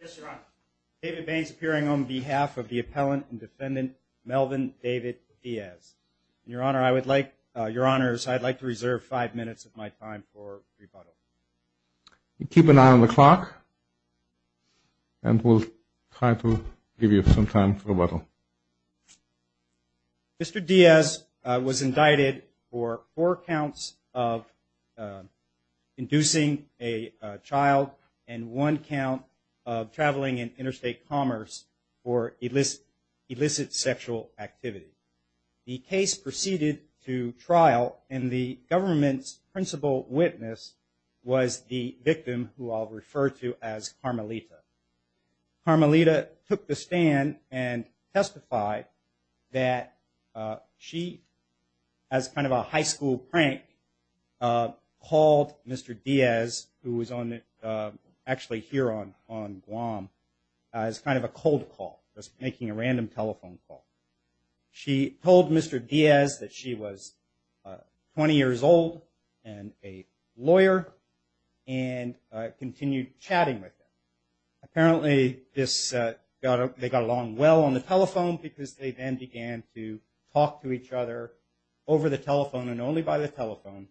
Yes, your honor. David Baines appearing on behalf of the appellant and defendant Melvin David Diaz. Your honor, I would like, your honors, I'd like to reserve five minutes of my time for rebuttal. Keep an eye on the clock and we'll try to give you some time for rebuttal. Mr. Diaz was indicted for four counts of inducing a child and one count of traveling in interstate commerce for illicit sexual activity. The case proceeded to trial and the government's principal witness was the victim who I'll refer to as Carmelita. Carmelita took the stand and testified that she, as kind of a high school prank, called Mr. Diaz, who was actually here on Guam, as kind of a cold call, just making a random telephone call. She told Mr. Diaz that she was 20 years old and a lawyer and continued chatting with him. Apparently this, they got along well on the telephone because they then began to talk to each other over the telephone and only by the telephone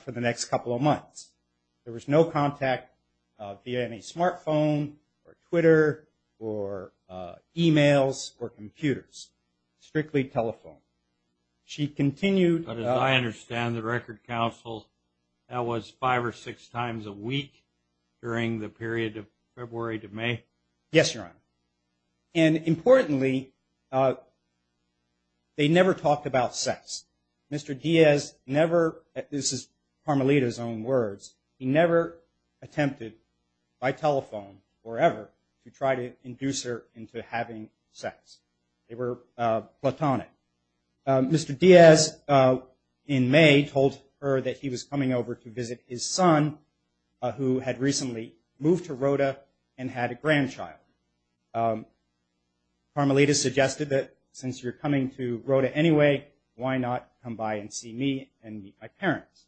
for the next couple of months. There was no contact via any smartphone or Twitter or emails or computers. Strictly telephone. She continued... But as I understand, the record counsel, that was five or six times a week during the period of February to May? Yes, your honor. And importantly, they never talked about sex. Mr. Diaz never... This is Carmelita's own words. He never attempted by telephone or ever to try to induce her into having sex. They were platonic. Mr. Diaz in May told her that he was coming over to visit his son who had recently moved to Rota and had a grandchild. Carmelita suggested that since you're coming to Rota anyway, why not come by and see me and meet my parents?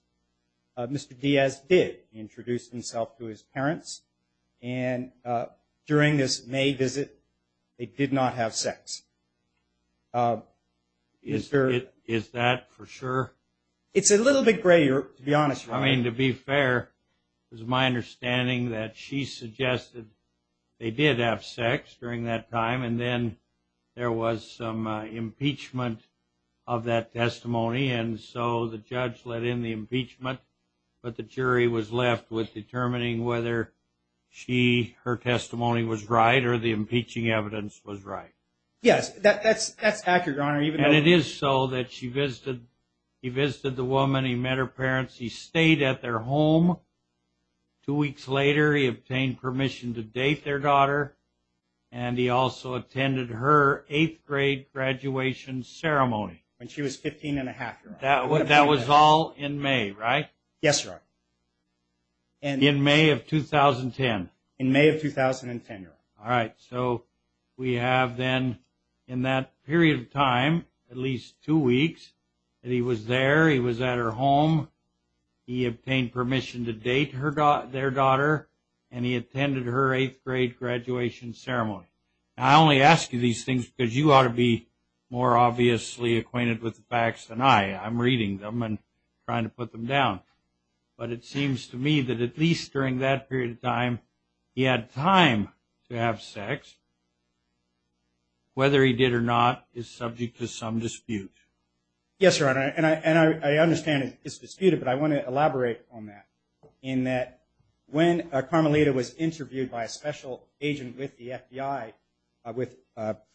Mr. Diaz did introduce himself to his parents and during this May visit, they did not have sex. Is that for sure? It's a little bit gray to be honest. To be fair, it's my understanding that she suggested they did have sex during that time and then there was some impeachment of that testimony. And so the judge let in the impeachment, but the jury was left with determining whether her testimony was right or the impeaching evidence was right. Yes, that's accurate, your honor. And it is so that he visited the woman, he met her parents, he stayed at their home. Two weeks later, he obtained permission to date their daughter and he also attended her 8th grade graduation ceremony. When she was 15 and a half, your honor. That was all in May, right? Yes, your honor. In May of 2010. In May of 2010, your honor. All right, so we have then in that period of time, at least two weeks, that he was there, he was at her home. He obtained permission to date their daughter and he attended her 8th grade graduation ceremony. I only ask you these things because you ought to be more obviously acquainted with the facts than I. I'm reading them and trying to put them down. But it seems to me that at least during that period of time, he had time to have sex. Whether he did or not is subject to some dispute. Yes, your honor. And I understand it's disputed, but I want to elaborate on that. In that when Carmelita was interviewed by a special agent with the FBI with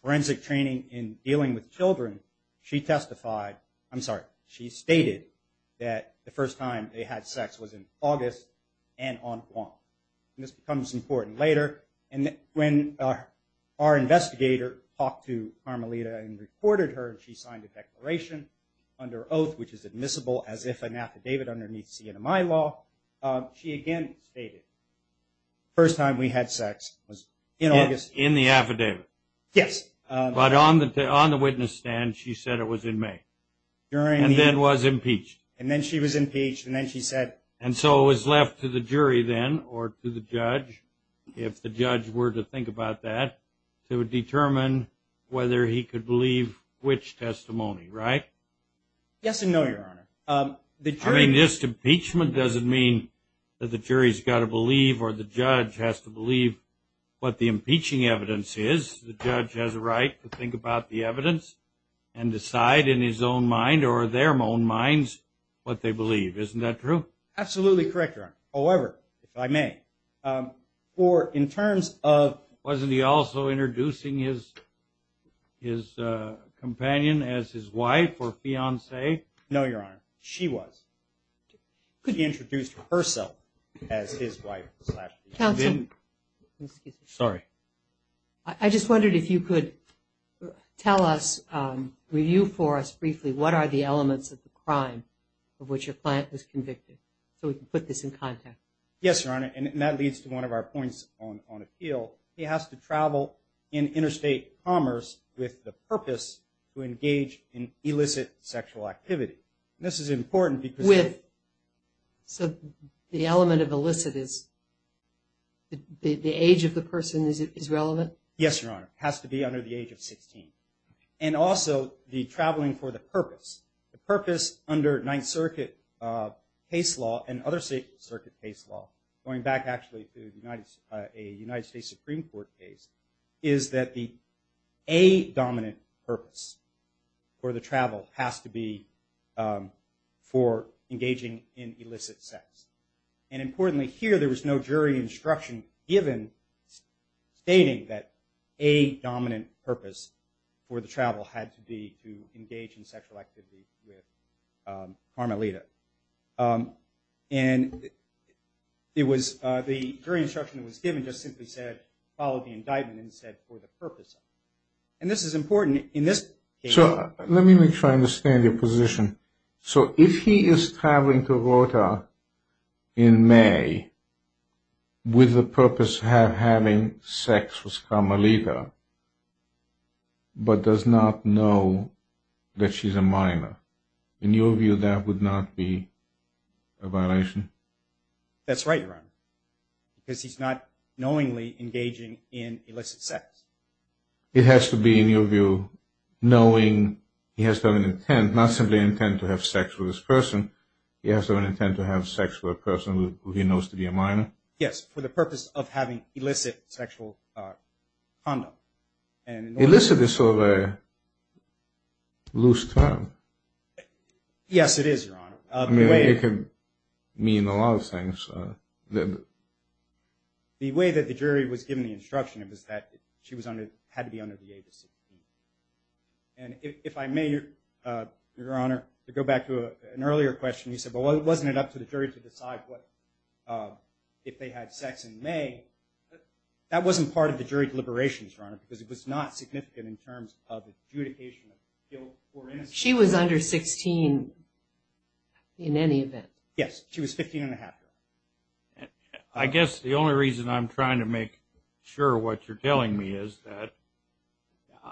forensic training in dealing with children, she testified, I'm sorry, she stated that the first time they had sex was in August and on Guam. And this becomes important later. And when our investigator talked to Carmelita and reported her, she signed a declaration under oath, which is admissible as if an affidavit underneath CNMI law. She again stated the first time we had sex was in August. In the affidavit? Yes. But on the witness stand, she said it was in May. And then was impeached. And then she was impeached, and then she said. And so it was left to the jury then or to the judge, if the judge were to think about that, to determine whether he could believe which testimony, right? Yes and no, your honor. I mean, just impeachment doesn't mean that the jury's got to believe or the judge has to believe what the impeaching evidence is. The judge has a right to think about the evidence and decide in his own mind or their own minds what they believe. Isn't that true? Absolutely correct, your honor. However, if I may, for in terms of. Wasn't he also introducing his companion as his wife or fiance? No, your honor. She was. She introduced herself as his wife. Counsel. Sorry. I just wondered if you could tell us, review for us briefly, what are the elements of the crime of which your client was convicted so we can put this in context. Yes, your honor. And that leads to one of our points on appeal. He has to travel in interstate commerce with the purpose to engage in illicit sexual activity. And this is important because. So the element of illicit is the age of the person is relevant? Yes, your honor. It has to be under the age of 16. And also the traveling for the purpose. The purpose under Ninth Circuit case law and other state circuit case law, going back actually to a United States Supreme Court case, is that the a-dominant purpose for the travel has to be for engaging in illicit sex. And importantly, here there was no jury instruction given stating that a-dominant purpose for the travel had to be to engage in sexual activity with Carmelita. And it was the jury instruction that was given just simply said follow the indictment and said for the purpose. And this is important in this case. So let me make sure I understand your position. So if he is traveling to Rota in May with the purpose of having sex with Carmelita, but does not know that she's a minor, in your view that would not be a violation? That's right, your honor. Because he's not knowingly engaging in illicit sex. It has to be, in your view, knowing he has to have an intent, not simply an intent to have sex with this person, he has to have an intent to have sex with a person who he knows to be a minor? Yes, for the purpose of having illicit sexual conduct. Illicit is sort of a loose term. Yes, it is, your honor. I mean, it can mean a lot of things. The way that the jury was given the instruction was that she had to be under the age of 16. And if I may, your honor, to go back to an earlier question, you said, well, wasn't it up to the jury to decide if they had sex in May? That wasn't part of the jury deliberations, your honor, because it was not significant in terms of adjudication of guilt or innocence. She was under 16 in any event. Yes, she was 15 and a half. I guess the only reason I'm trying to make sure what you're telling me is that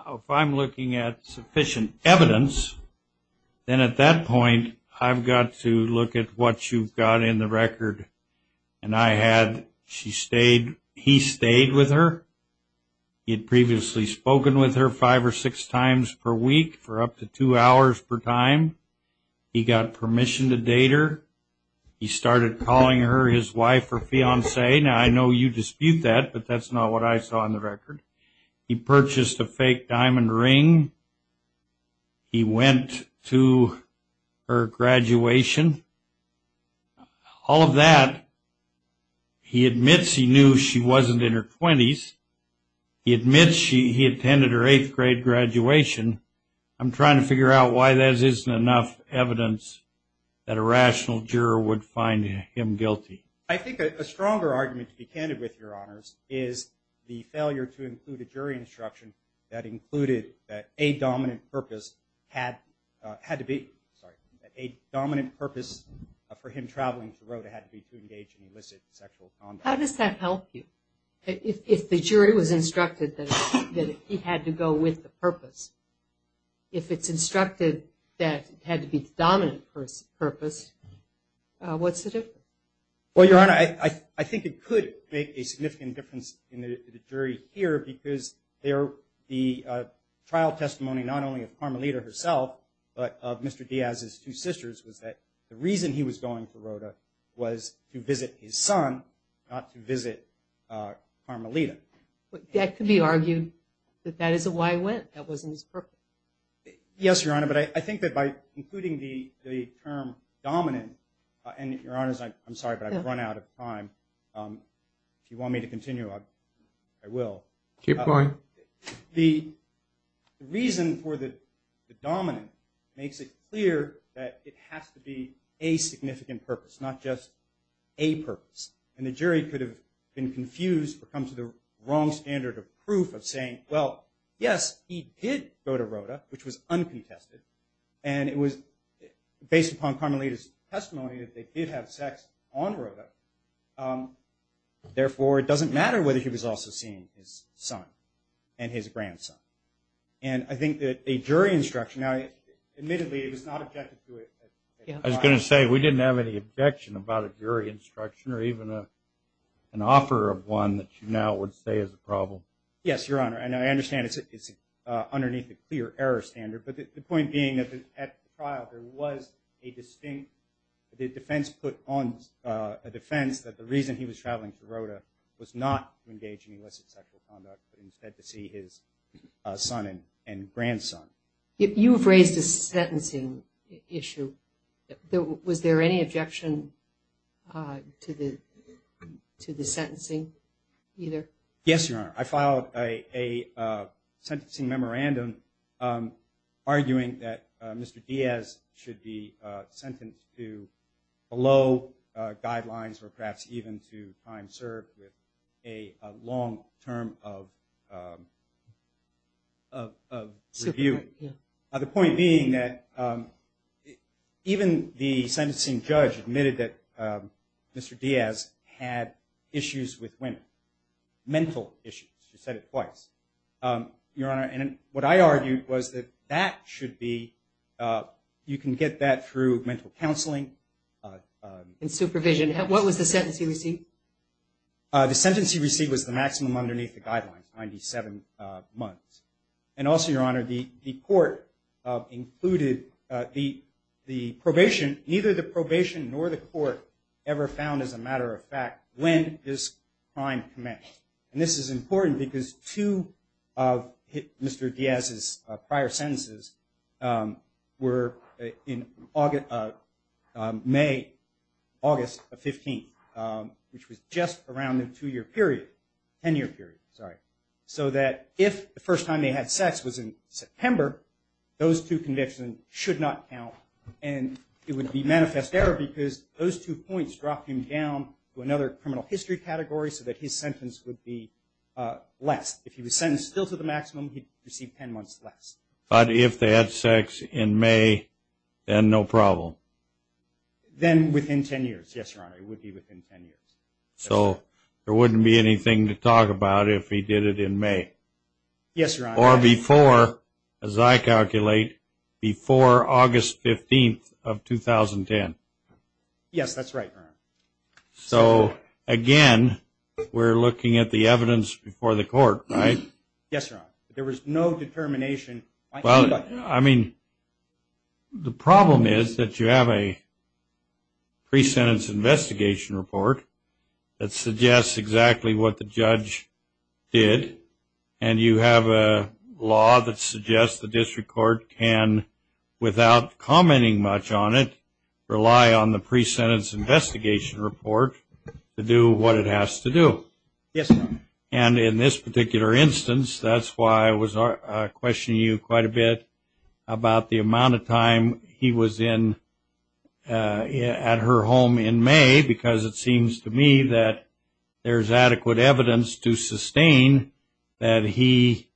if I'm looking at sufficient evidence, then at that point I've got to look at what you've got in the record. And I had, he stayed with her. He had previously spoken with her five or six times per week for up to two hours per time. He got permission to date her. He started calling her his wife or fiancée. Now, I know you dispute that, but that's not what I saw in the record. He purchased a fake diamond ring. He went to her graduation. All of that, he admits he knew she wasn't in her 20s. He admits he attended her eighth grade graduation. I'm trying to figure out why there isn't enough evidence that a rational juror would find him guilty. I think a stronger argument to be candid with, your honors, is the failure to include a jury instruction that included that a dominant purpose had to be, a dominant purpose for him traveling to Rota had to be to engage in illicit sexual conduct. How does that help you? If the jury was instructed that he had to go with the purpose, if it's instructed that it had to be the dominant purpose, what's the difference? Well, your honor, I think it could make a significant difference in the jury here because the trial testimony not only of Carmelita herself but of Mr. Diaz's two sisters was that the reason he was going to Rota was to visit his son, not to visit Carmelita. That could be argued that that is why he went. That wasn't his purpose. Yes, your honor, but I think that by including the term dominant, and your honors, I'm sorry, but I've run out of time. If you want me to continue, I will. Keep going. The reason for the dominant makes it clear that it has to be a significant purpose, not just a purpose. And the jury could have been confused or come to the wrong standard of proof of saying, well, yes, he did go to Rota, which was uncontested, and it was based upon Carmelita's testimony that they did have sex on Rota. Therefore, it doesn't matter whether he was also seeing his son and his grandson. And I think that a jury instruction, now, admittedly, it was not objective to it. I was going to say we didn't have any objection about a jury instruction or even an offer of one that you now would say is a problem. Yes, your honor, and I understand it's underneath the clear error standard, but the point being that at the trial there was a distinct defense put on, a defense that the reason he was traveling to Rota was not to engage in illicit sexual conduct, but instead to see his son and grandson. You have raised a sentencing issue. Was there any objection to the sentencing either? Yes, your honor. I filed a sentencing memorandum arguing that Mr. Diaz should be sentenced to below guidelines or perhaps even to time served with a long term of review. The point being that even the sentencing judge admitted that Mr. Diaz had issues with women. Mental issues. You said it twice, your honor. And what I argued was that that should be, you can get that through mental counseling. And supervision. What was the sentence he received? The sentence he received was the maximum underneath the guidelines, 97 months. And also, your honor, the court included the probation, neither the probation nor the court ever found as a matter of fact when this crime commenced. And this is important because two of Mr. Diaz's prior sentences were in May, August of 15, which was just around the two year period, ten year period, sorry. So that if the first time they had sex was in September, those two convictions should not count and it would be manifest error because those two points dropped him down to another criminal history category so that his sentence would be less. If he was sentenced still to the maximum, he'd receive ten months less. But if they had sex in May, then no problem. Then within ten years, yes, your honor. It would be within ten years. So there wouldn't be anything to talk about if he did it in May. Yes, your honor. Or before, as I calculate, before August 15th of 2010. Yes, that's right, your honor. So, again, we're looking at the evidence before the court, right? Yes, your honor. There was no determination. Well, I mean, the problem is that you have a pre-sentence investigation report that suggests exactly what the judge did, and you have a law that suggests the district court can, without commenting much on it, rely on the pre-sentence investigation report to do what it has to do. Yes, your honor. And in this particular instance, that's why I was questioning you quite a bit about the amount of time he was at her home in May because it seems to me that there's adequate evidence to sustain that he,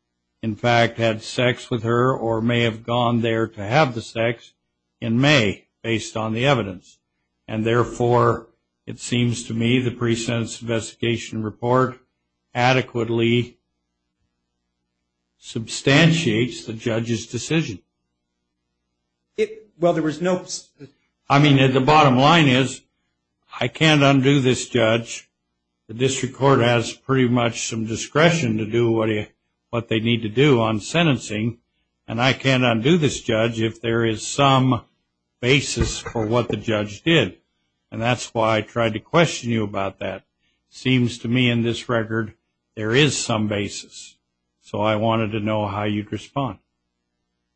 in fact, had sex with her or may have gone there to have the sex in May based on the evidence. And, therefore, it seems to me the pre-sentence investigation report adequately substantiates the judge's decision. Well, there was no – I mean, the bottom line is I can't undo this, judge. The district court has pretty much some discretion to do what they need to do on sentencing, and I can't undo this, judge, if there is some basis for what the judge did. And that's why I tried to question you about that. It seems to me in this record there is some basis. So I wanted to know how you'd respond.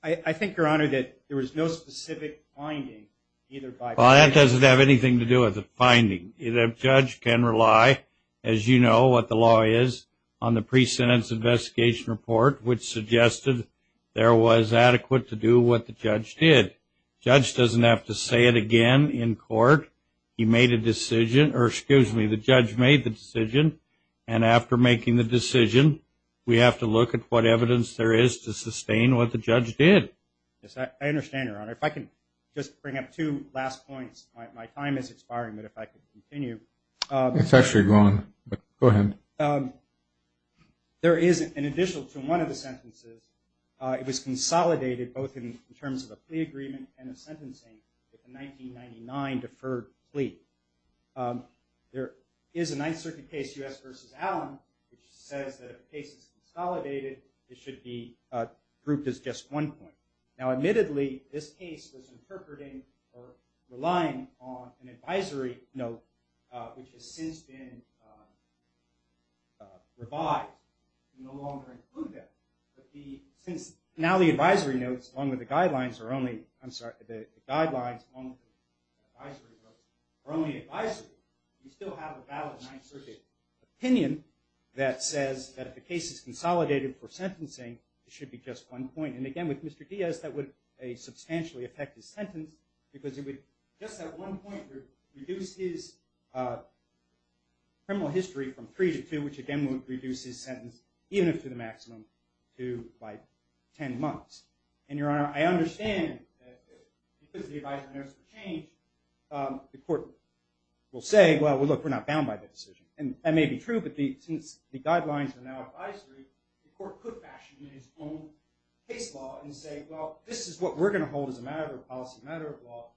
I think, your honor, that there was no specific finding either by the judge. Well, that doesn't have anything to do with the finding. The judge can rely, as you know what the law is, on the pre-sentence investigation report, which suggested there was adequate to do what the judge did. The judge doesn't have to say it again in court. He made a decision – or, excuse me, the judge made the decision, and after making the decision we have to look at what evidence there is to sustain what the judge did. Yes, I understand, your honor. If I can just bring up two last points. My time is expiring, but if I could continue. It's actually going. Go ahead. There is, in addition to one of the sentences, it was consolidated both in terms of a plea agreement and a sentencing with a 1999 deferred plea. There is a Ninth Circuit case, U.S. v. Allen, which says that if the case is consolidated, it should be grouped as just one point. Now, admittedly, this case was interpreting or relying on an advisory note, which has since been revived. We no longer include that. Since now the advisory notes along with the guidelines are only advisory, we still have a valid Ninth Circuit opinion that says that if the case is consolidated for sentencing, it should be just one point. And again, with Mr. Diaz, that would substantially affect his sentence because it would just at one point reduce his criminal history from three to two, which again would reduce his sentence even if to the maximum to like ten months. And, Your Honor, I understand that because the advisory notes have changed, the court will say, well, look, we're not bound by that decision. And that may be true, but since the guidelines are now advisory, the court could fashion its own case law and say, well, this is what we're going to hold as a matter of policy, a matter of law,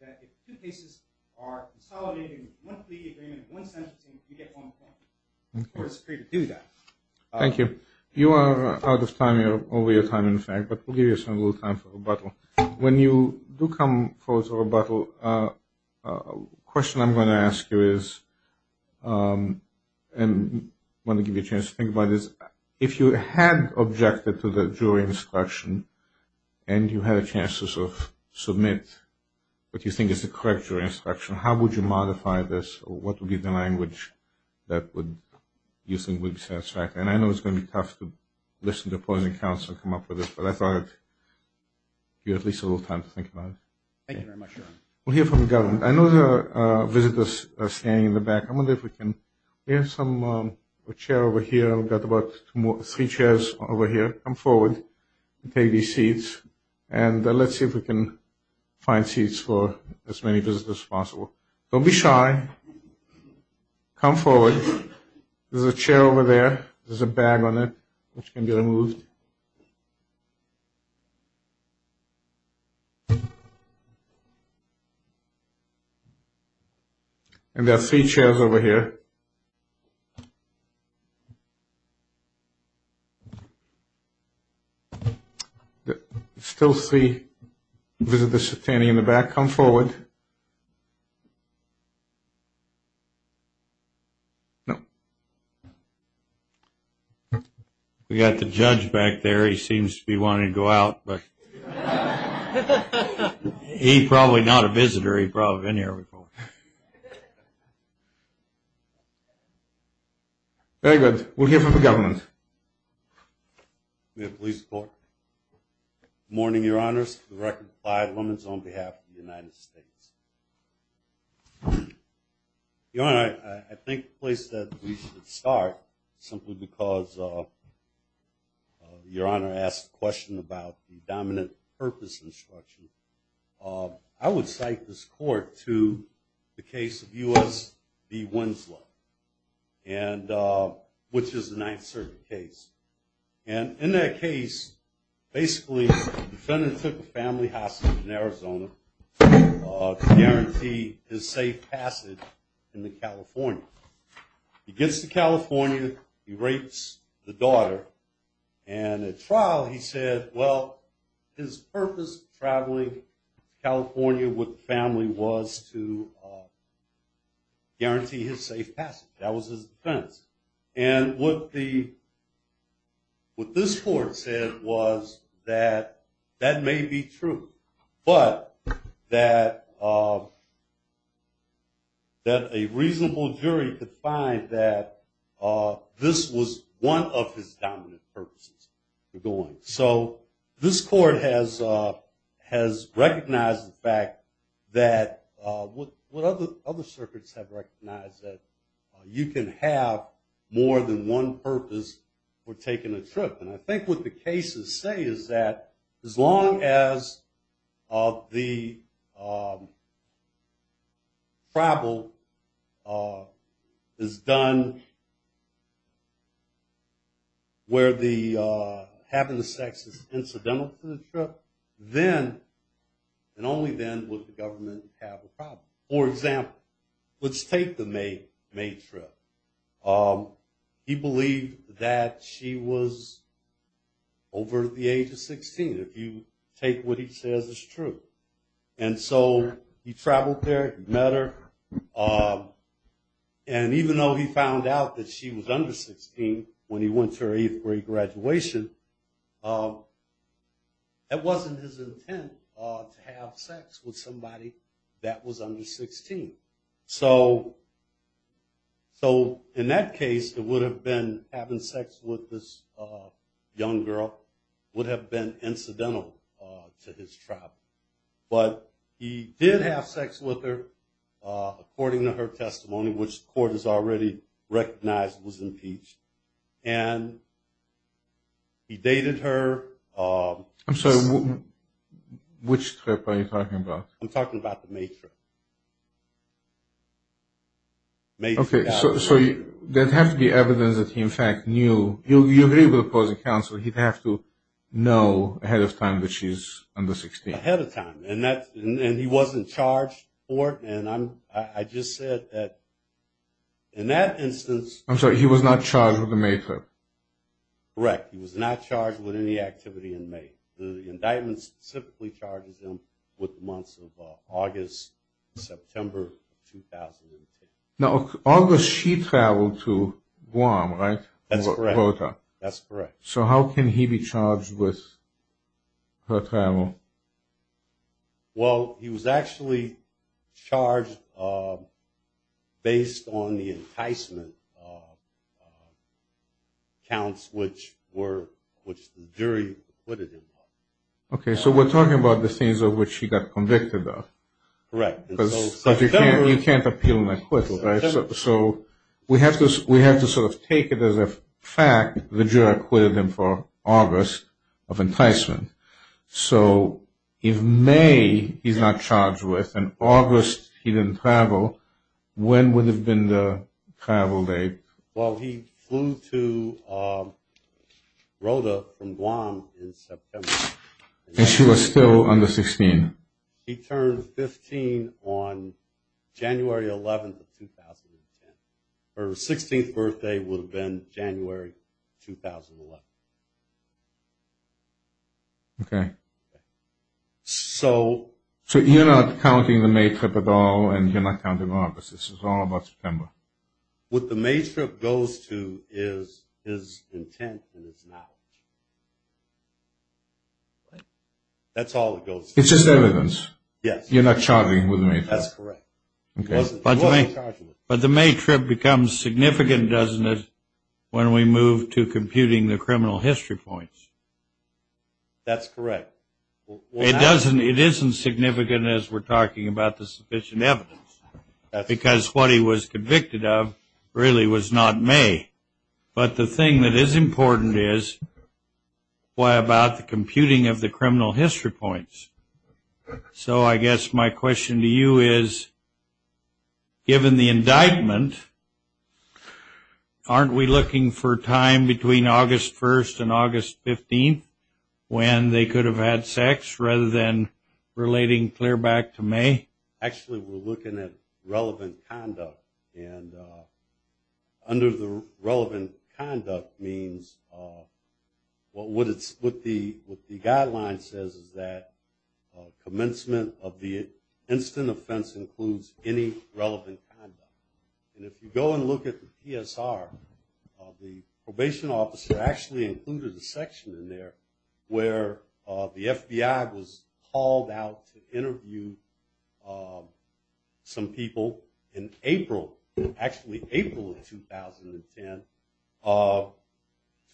that if two cases are consolidated with one plea agreement and one sentencing, you get one point. The court is free to do that. Thank you. You are out of time. You're over your time, in fact, but we'll give you a little time for rebuttal. When you do come forward for rebuttal, a question I'm going to ask you is and I want to give you a chance to think about this. If you had objected to the jury instruction and you had a chance to sort of submit what you think is the correct jury instruction, how would you modify this or what would be the language that you think would be satisfactory? And I know it's going to be tough to listen to a point of counsel and come up with this, but I thought you had at least a little time to think about it. Thank you very much, Your Honor. We'll hear from the government. I know there are visitors standing in the back. I wonder if we can get some chair over here. I've got about three chairs over here. Come forward and take these seats, and let's see if we can find seats for as many visitors as possible. Don't be shy. Come forward. There's a chair over there. There's a bag on it which can be removed. And there are three chairs over here. I still see visitors standing in the back. Come forward. No. We've got the judge back there. He seems to be wanting to go out. He's probably not a visitor. He's probably been here before. Very good. We'll hear from the government. We have police support. Good morning, Your Honors. The record of five women on behalf of the United States. Your Honor, I think the place that we should start, simply because Your Honor asked a question about the dominant purpose instruction, I would cite this court to the case of U.S. v. Winslow, which is the Ninth Circuit case. And in that case, basically, the defendant took the family hostage in Arizona to guarantee his safe passage into California. He gets to California. He rapes the daughter. And at trial, he said, well, his purpose of traveling to California with the family was to guarantee his safe passage. That was his defense. And what this court said was that that may be true, but that a reasonable jury could find that this was one of his dominant purposes. So this court has recognized the fact that what other circuits have more than one purpose for taking a trip. And I think what the cases say is that as long as the travel is done where having the sex is incidental to the trip, then and only then would the government have a problem. For example, let's take the May trip. He believed that she was over the age of 16, if you take what he says is true. And so he traveled there, met her. And even though he found out that she was under 16 when he went to her eighth grade graduation, that wasn't his intent to have sex with somebody that was under 16. So in that case, having sex with this young girl would have been incidental to his travel. But he did have sex with her, according to her testimony, which the court has already recognized was impeached. And he dated her. I'm sorry, which trip are you talking about? I'm talking about the May trip. Okay, so there has to be evidence that he, in fact, knew. You agree with opposing counsel he'd have to know ahead of time that she's under 16. Ahead of time. And he wasn't charged for it. And I just said that in that instance. I'm sorry, he was not charged with the May trip. Correct. He was not charged with any activity in May. The indictment specifically charges him with the months of August, September of 2008. Now August she traveled to Guam, right? That's correct. That's correct. So how can he be charged with her travel? Well, he was actually charged based on the enticement accounts, which the jury acquitted him of. Okay, so we're talking about the things of which he got convicted of. Correct. Because you can't appeal an acquittal, right? So we have to sort of take it as a fact the jury acquitted him for August of enticement. So if May he's not charged with and August he didn't travel, when would have been the travel date? Well, he flew to Rota from Guam in September. And she was still under 16. He turned 15 on January 11th of 2010. Her 16th birthday would have been January 2011. Okay. So you're not counting the May trip at all, and you're not counting August. This is all about September. What the May trip goes to is his intent and his knowledge. That's all it goes to. It's just evidence. Yes. You're not charging with May trip. That's correct. But the May trip becomes significant, doesn't it, when we move to computing the criminal history points? That's correct. It isn't significant as we're talking about the sufficient evidence, because what he was convicted of really was not May. But the thing that is important is, why about the computing of the criminal history points? So I guess my question to you is, given the indictment, aren't we looking for time between August 1st and August 15th, when they could have had sex, rather than relating clear back to May? Actually, we're looking at relevant conduct. And under the relevant conduct means, what the guideline says is that commencement of the instant offense includes any relevant conduct. And if you go and look at the PSR, the probation officer actually included a section in there where the FBI was able, actually April of 2010, to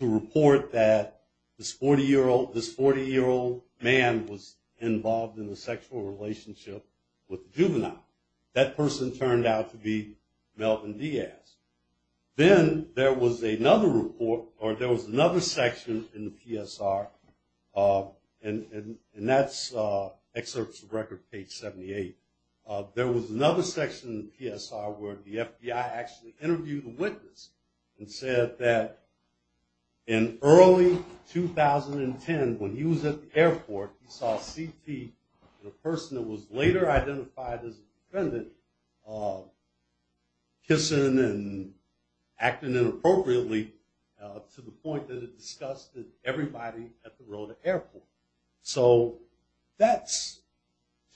report that this 40-year-old man was involved in a sexual relationship with a juvenile. That person turned out to be Melvin Diaz. Then there was another report, or there was another section in the PSR, and that's excerpts of record page 78. There was another section in the PSR where the FBI actually interviewed the witness and said that in early 2010, when he was at the airport, he saw CP, the person that was later identified as a defendant, kissing and acting inappropriately, to the point that it disgusted everybody at the Rota airport. So that,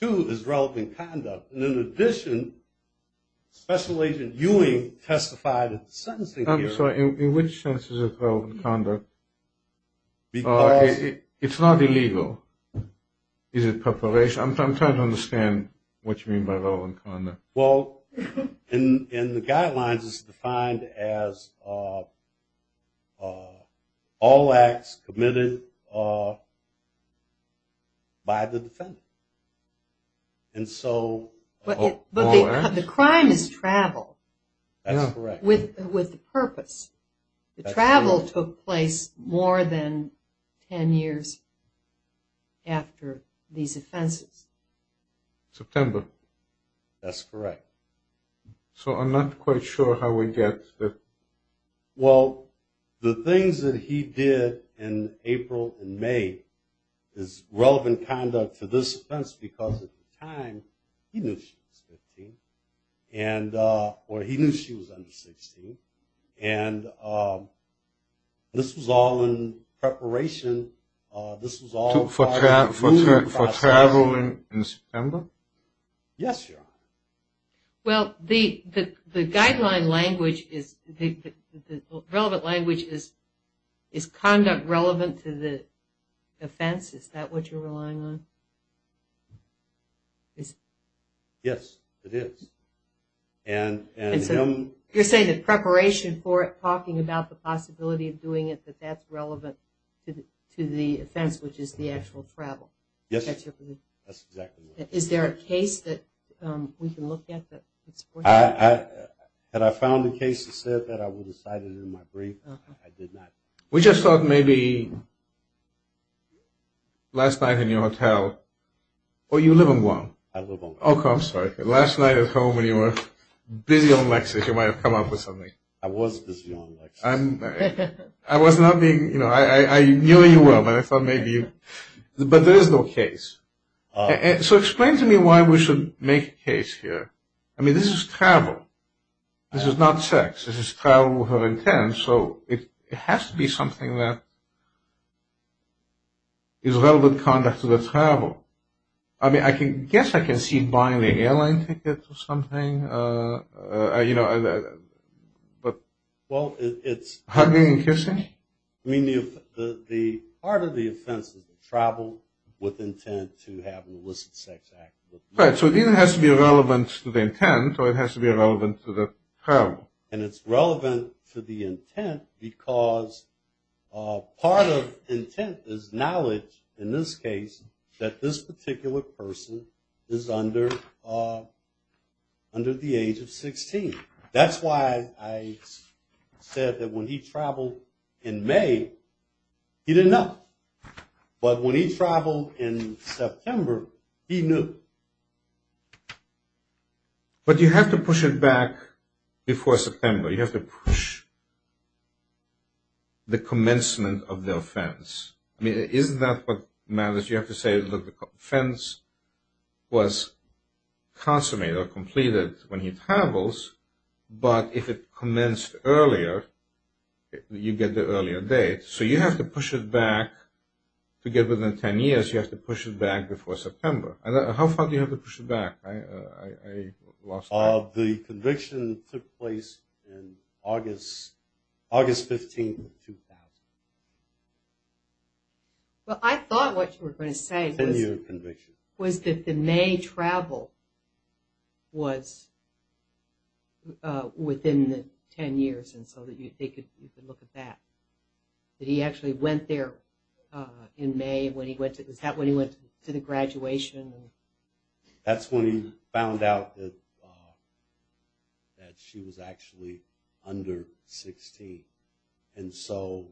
too, is relevant conduct. And in addition, Special Agent Ewing testified in the sentencing hearing. I'm sorry. In which sense is it relevant conduct? It's not illegal. Is it preparation? I'm trying to understand what you mean by relevant conduct. Well, in the guidelines it's defined as all acts committed by the defendant. But the crime is travel. That's correct. With the purpose. The travel took place more than ten years after these offenses. September. That's correct. So I'm not quite sure how we get that. Well, the things that he did in April and May is relevant conduct to this offense because at the time he knew she was 15, or he knew she was under 16. And this was all in preparation. For traveling in September? Yes, Your Honor. Well, the guideline language is the relevant language is conduct relevant to the offense. Is that what you're relying on? Yes, it is. And him. You're saying that preparation for it, you're talking about the possibility of doing it that that's relevant to the offense, which is the actual travel. Yes, that's exactly right. Is there a case that we can look at that supports that? Had I found a case that said that, I would have cited it in my brief. I did not. We just thought maybe last night in your hotel, or you live in Guam. I live in Guam. Oh, I'm sorry. Last night at home when you were busy on Lexington, you might have come up with something. I was busy on Lexington. I was not being, you know, I knew you were, but I thought maybe you, but there is no case. So explain to me why we should make a case here. I mean, this is travel. This is not sex. This is travel with her intent. So it has to be something that is relevant conduct to the travel. I mean, I guess I can see buying the airline ticket or something, you know, but. Well, it's. Hugging and kissing? I mean, part of the offense is travel with intent to have an illicit sex act. Right, so it either has to be relevant to the intent, or it has to be relevant to the travel. And it's relevant to the intent because part of intent is knowledge, in this case, that this particular person is under the age of 16. That's why I said that when he traveled in May, he didn't know. But when he traveled in September, he knew. But you have to push it back before September. You have to push the commencement of the offense. I mean, isn't that what matters? You have to say, look, the offense was consummated or completed when he travels, but if it commenced earlier, you get the earlier date. So you have to push it back to get within 10 years. You have to push it back before September. How far do you have to push it back? I lost track. The conviction took place in August 15, 2000. Well, I thought what you were going to say was that the May travel was within the 10 years, and so you could look at that. He actually went there in May when he went to the graduation. That's when he found out that she was actually under 16. And so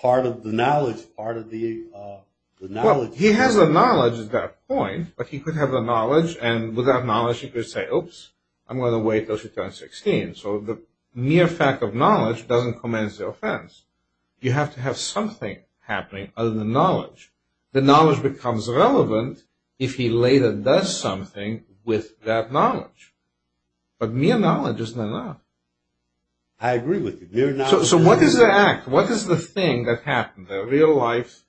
part of the knowledge, part of the knowledge. Well, he has the knowledge at that point, but he could have the knowledge, and with that knowledge he could say, oops, I'm going to wait until she turns 16. So the mere fact of knowledge doesn't commence the offense. You have to have something happening other than knowledge. The knowledge becomes relevant if he later does something with that knowledge. But mere knowledge isn't enough. I agree with you. Mere knowledge isn't enough. So what is the act? What is the thing that happened, the real-life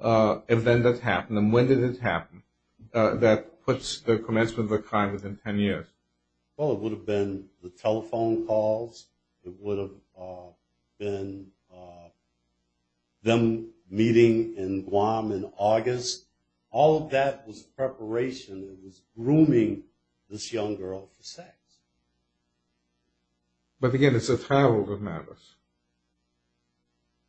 event that happened, and when did it happen that puts the commencement of a crime within 10 years? Well, it would have been the telephone calls. It would have been them meeting in Guam in August. All of that was preparation. It was grooming this young girl for sex. But, again, it's a travel that matters.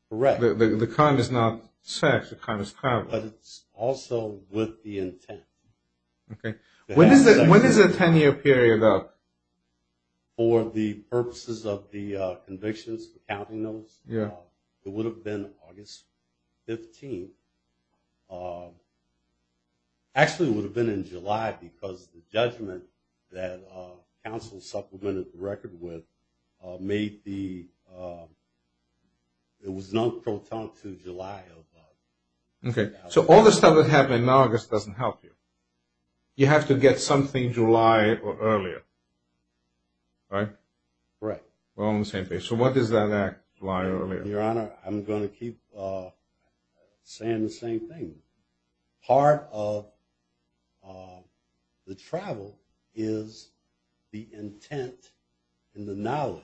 Correct. The crime is not sex. The crime is travel. But it's also with the intent. Okay. When is the 10-year period, though? For the purposes of the convictions, the counting notes, it would have been August 15th. Actually, it would have been in July because the judgment that counsel supplemented the record with made the – it was non-crotonal to July. Okay. So all the stuff that happened in August doesn't help you. You have to get something July or earlier, right? Right. We're on the same page. So what is that act, July or earlier? Your Honor, I'm going to keep saying the same thing. Part of the travel is the intent and the knowledge.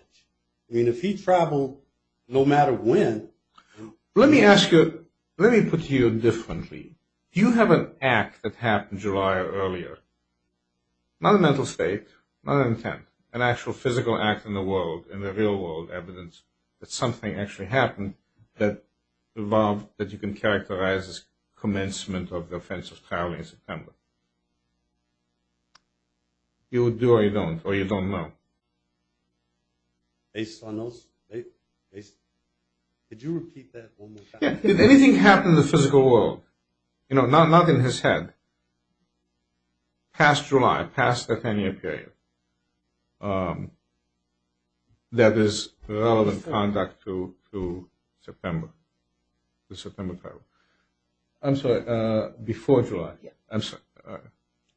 I mean, if he traveled no matter when – Let me ask you – let me put it to you differently. Do you have an act that happened July or earlier? Not a mental state, not an intent, an actual physical act in the world, in the real world, evidence that something actually happened that you can characterize as commencement of the offense of traveling in September. You would do or you don't, or you don't know. Based on those – did you repeat that one more time? Did anything happen in the physical world? You know, not in his head. Past July, past the 10-year period. That is relevant conduct to September, the September travel. I'm sorry, before July. I'm sorry.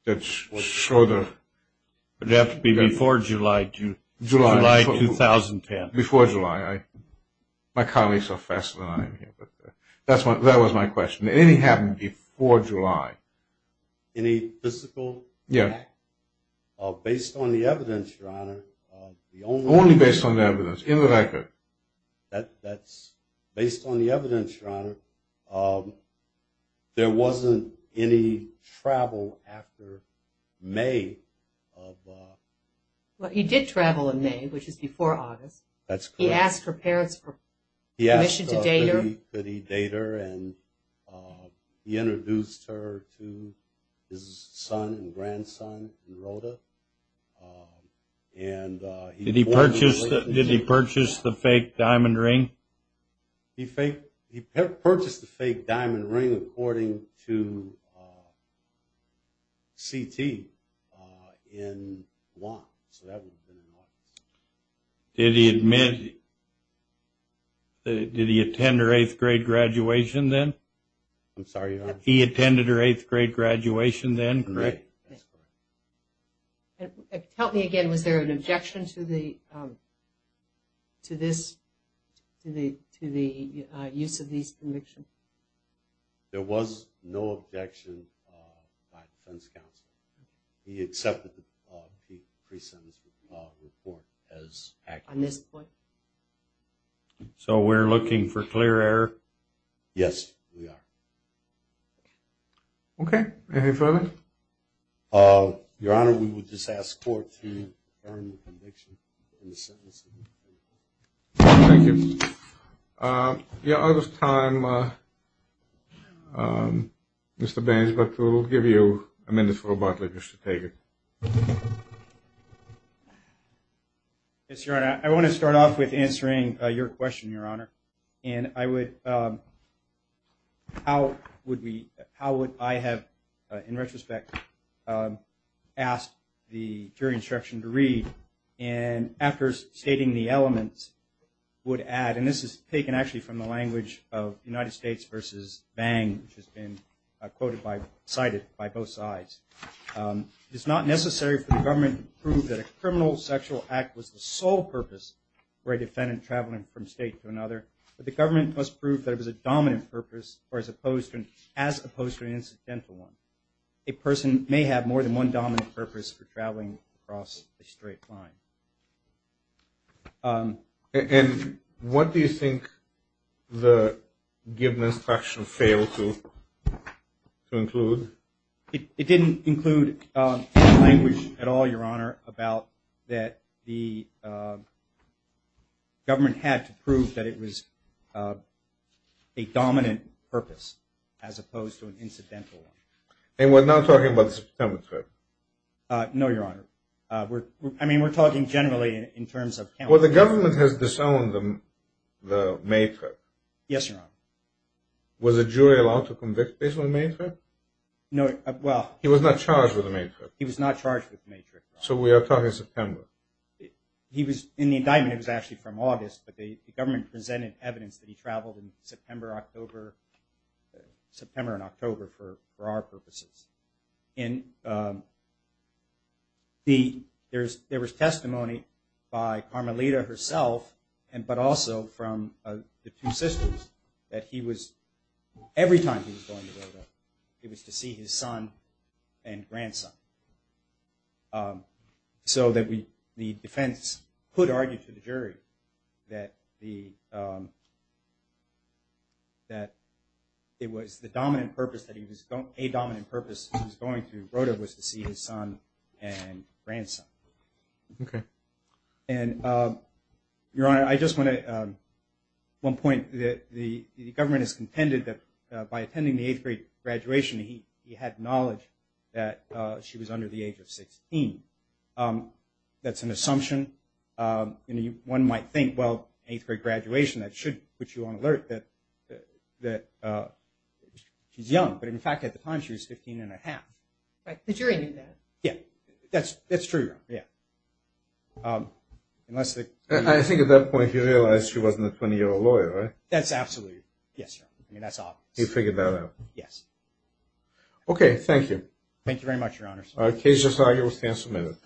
It would have to be before July 2010. Before July. My colleagues are faster than I am here, but that was my question. Did anything happen before July? Any physical act? Based on the evidence, Your Honor, the only – Only based on the evidence, in the record. That's – based on the evidence, Your Honor, there wasn't any travel after May of – Well, he did travel in May, which is before August. That's correct. He asked her parents for permission to date her. He asked that he date her, and he introduced her to his son and grandson in Rota. And he – Did he purchase the fake diamond ring? He purchased the fake diamond ring according to CT in Guam. So that would have been in Guam. Did he admit – did he attend her eighth-grade graduation then? I'm sorry, Your Honor. He attended her eighth-grade graduation then? Correct. That's correct. Help me again. Was there an objection to the – to this – to the use of these convictions? There was no objection by defense counsel. He accepted the pre-sentence report as accurate. On this point? So we're looking for clear error? Yes, we are. Okay. Anything further? Your Honor, we would just ask court to confirm the conviction in the sentencing. Thank you. Your Honor's time, Mr. Baines, but we'll give you a minute for a butler just to take it. Yes, Your Honor. I want to start off with answering your question, Your Honor. And I would – how would we – how would I have, in retrospect, asked the jury instruction to read And after stating the elements, would add – and this is taken actually from the language of United States versus Bang, which has been quoted by – cited by both sides. It is not necessary for the government to prove that a criminal sexual act was the sole purpose for a defendant traveling from state to another, but the government must prove that it was a dominant purpose or as opposed to – as opposed to an incidental one. A person may have more than one dominant purpose for traveling across a straight line. And what do you think the given instruction failed to include? It didn't include language at all, Your Honor, about that the government had to prove that it was a dominant purpose as opposed to an incidental one. And we're not talking about the September trip? No, Your Honor. I mean, we're talking generally in terms of – Well, the government has disowned the May trip. Yes, Your Honor. Was the jury allowed to convict based on the May trip? No, well – He was not charged with the May trip. He was not charged with the May trip, Your Honor. So we are talking September. He was – in the indictment, it was actually from August, but the government presented evidence that he traveled in September, October – September and October for our purposes. And there was testimony by Carmelita herself, but also from the two sisters, that he was – every time he was going to Rota, he was to see his son and grandson. So that the defense could argue to the jury that the – that it was the dominant purpose that he was – a dominant purpose that he was going to Rota was to see his son and grandson. Okay. And, Your Honor, I just want to – one point. The government has contended that by attending the eighth grade graduation, he had knowledge that she was under the age of 16. That's an assumption. You know, one might think, well, eighth grade graduation, that should put you on alert that she's young. But, in fact, at the time, she was 15 and a half. Right. The jury knew that. Yeah. That's true, Your Honor. Yeah. Unless the – I think at that point he realized she wasn't a 20-year-old lawyer, right? That's absolutely – yes, Your Honor. I mean, that's obvious. He figured that out. Yes. Okay. Thank you. Thank you very much, Your Honors. The case is now herewith passed amended.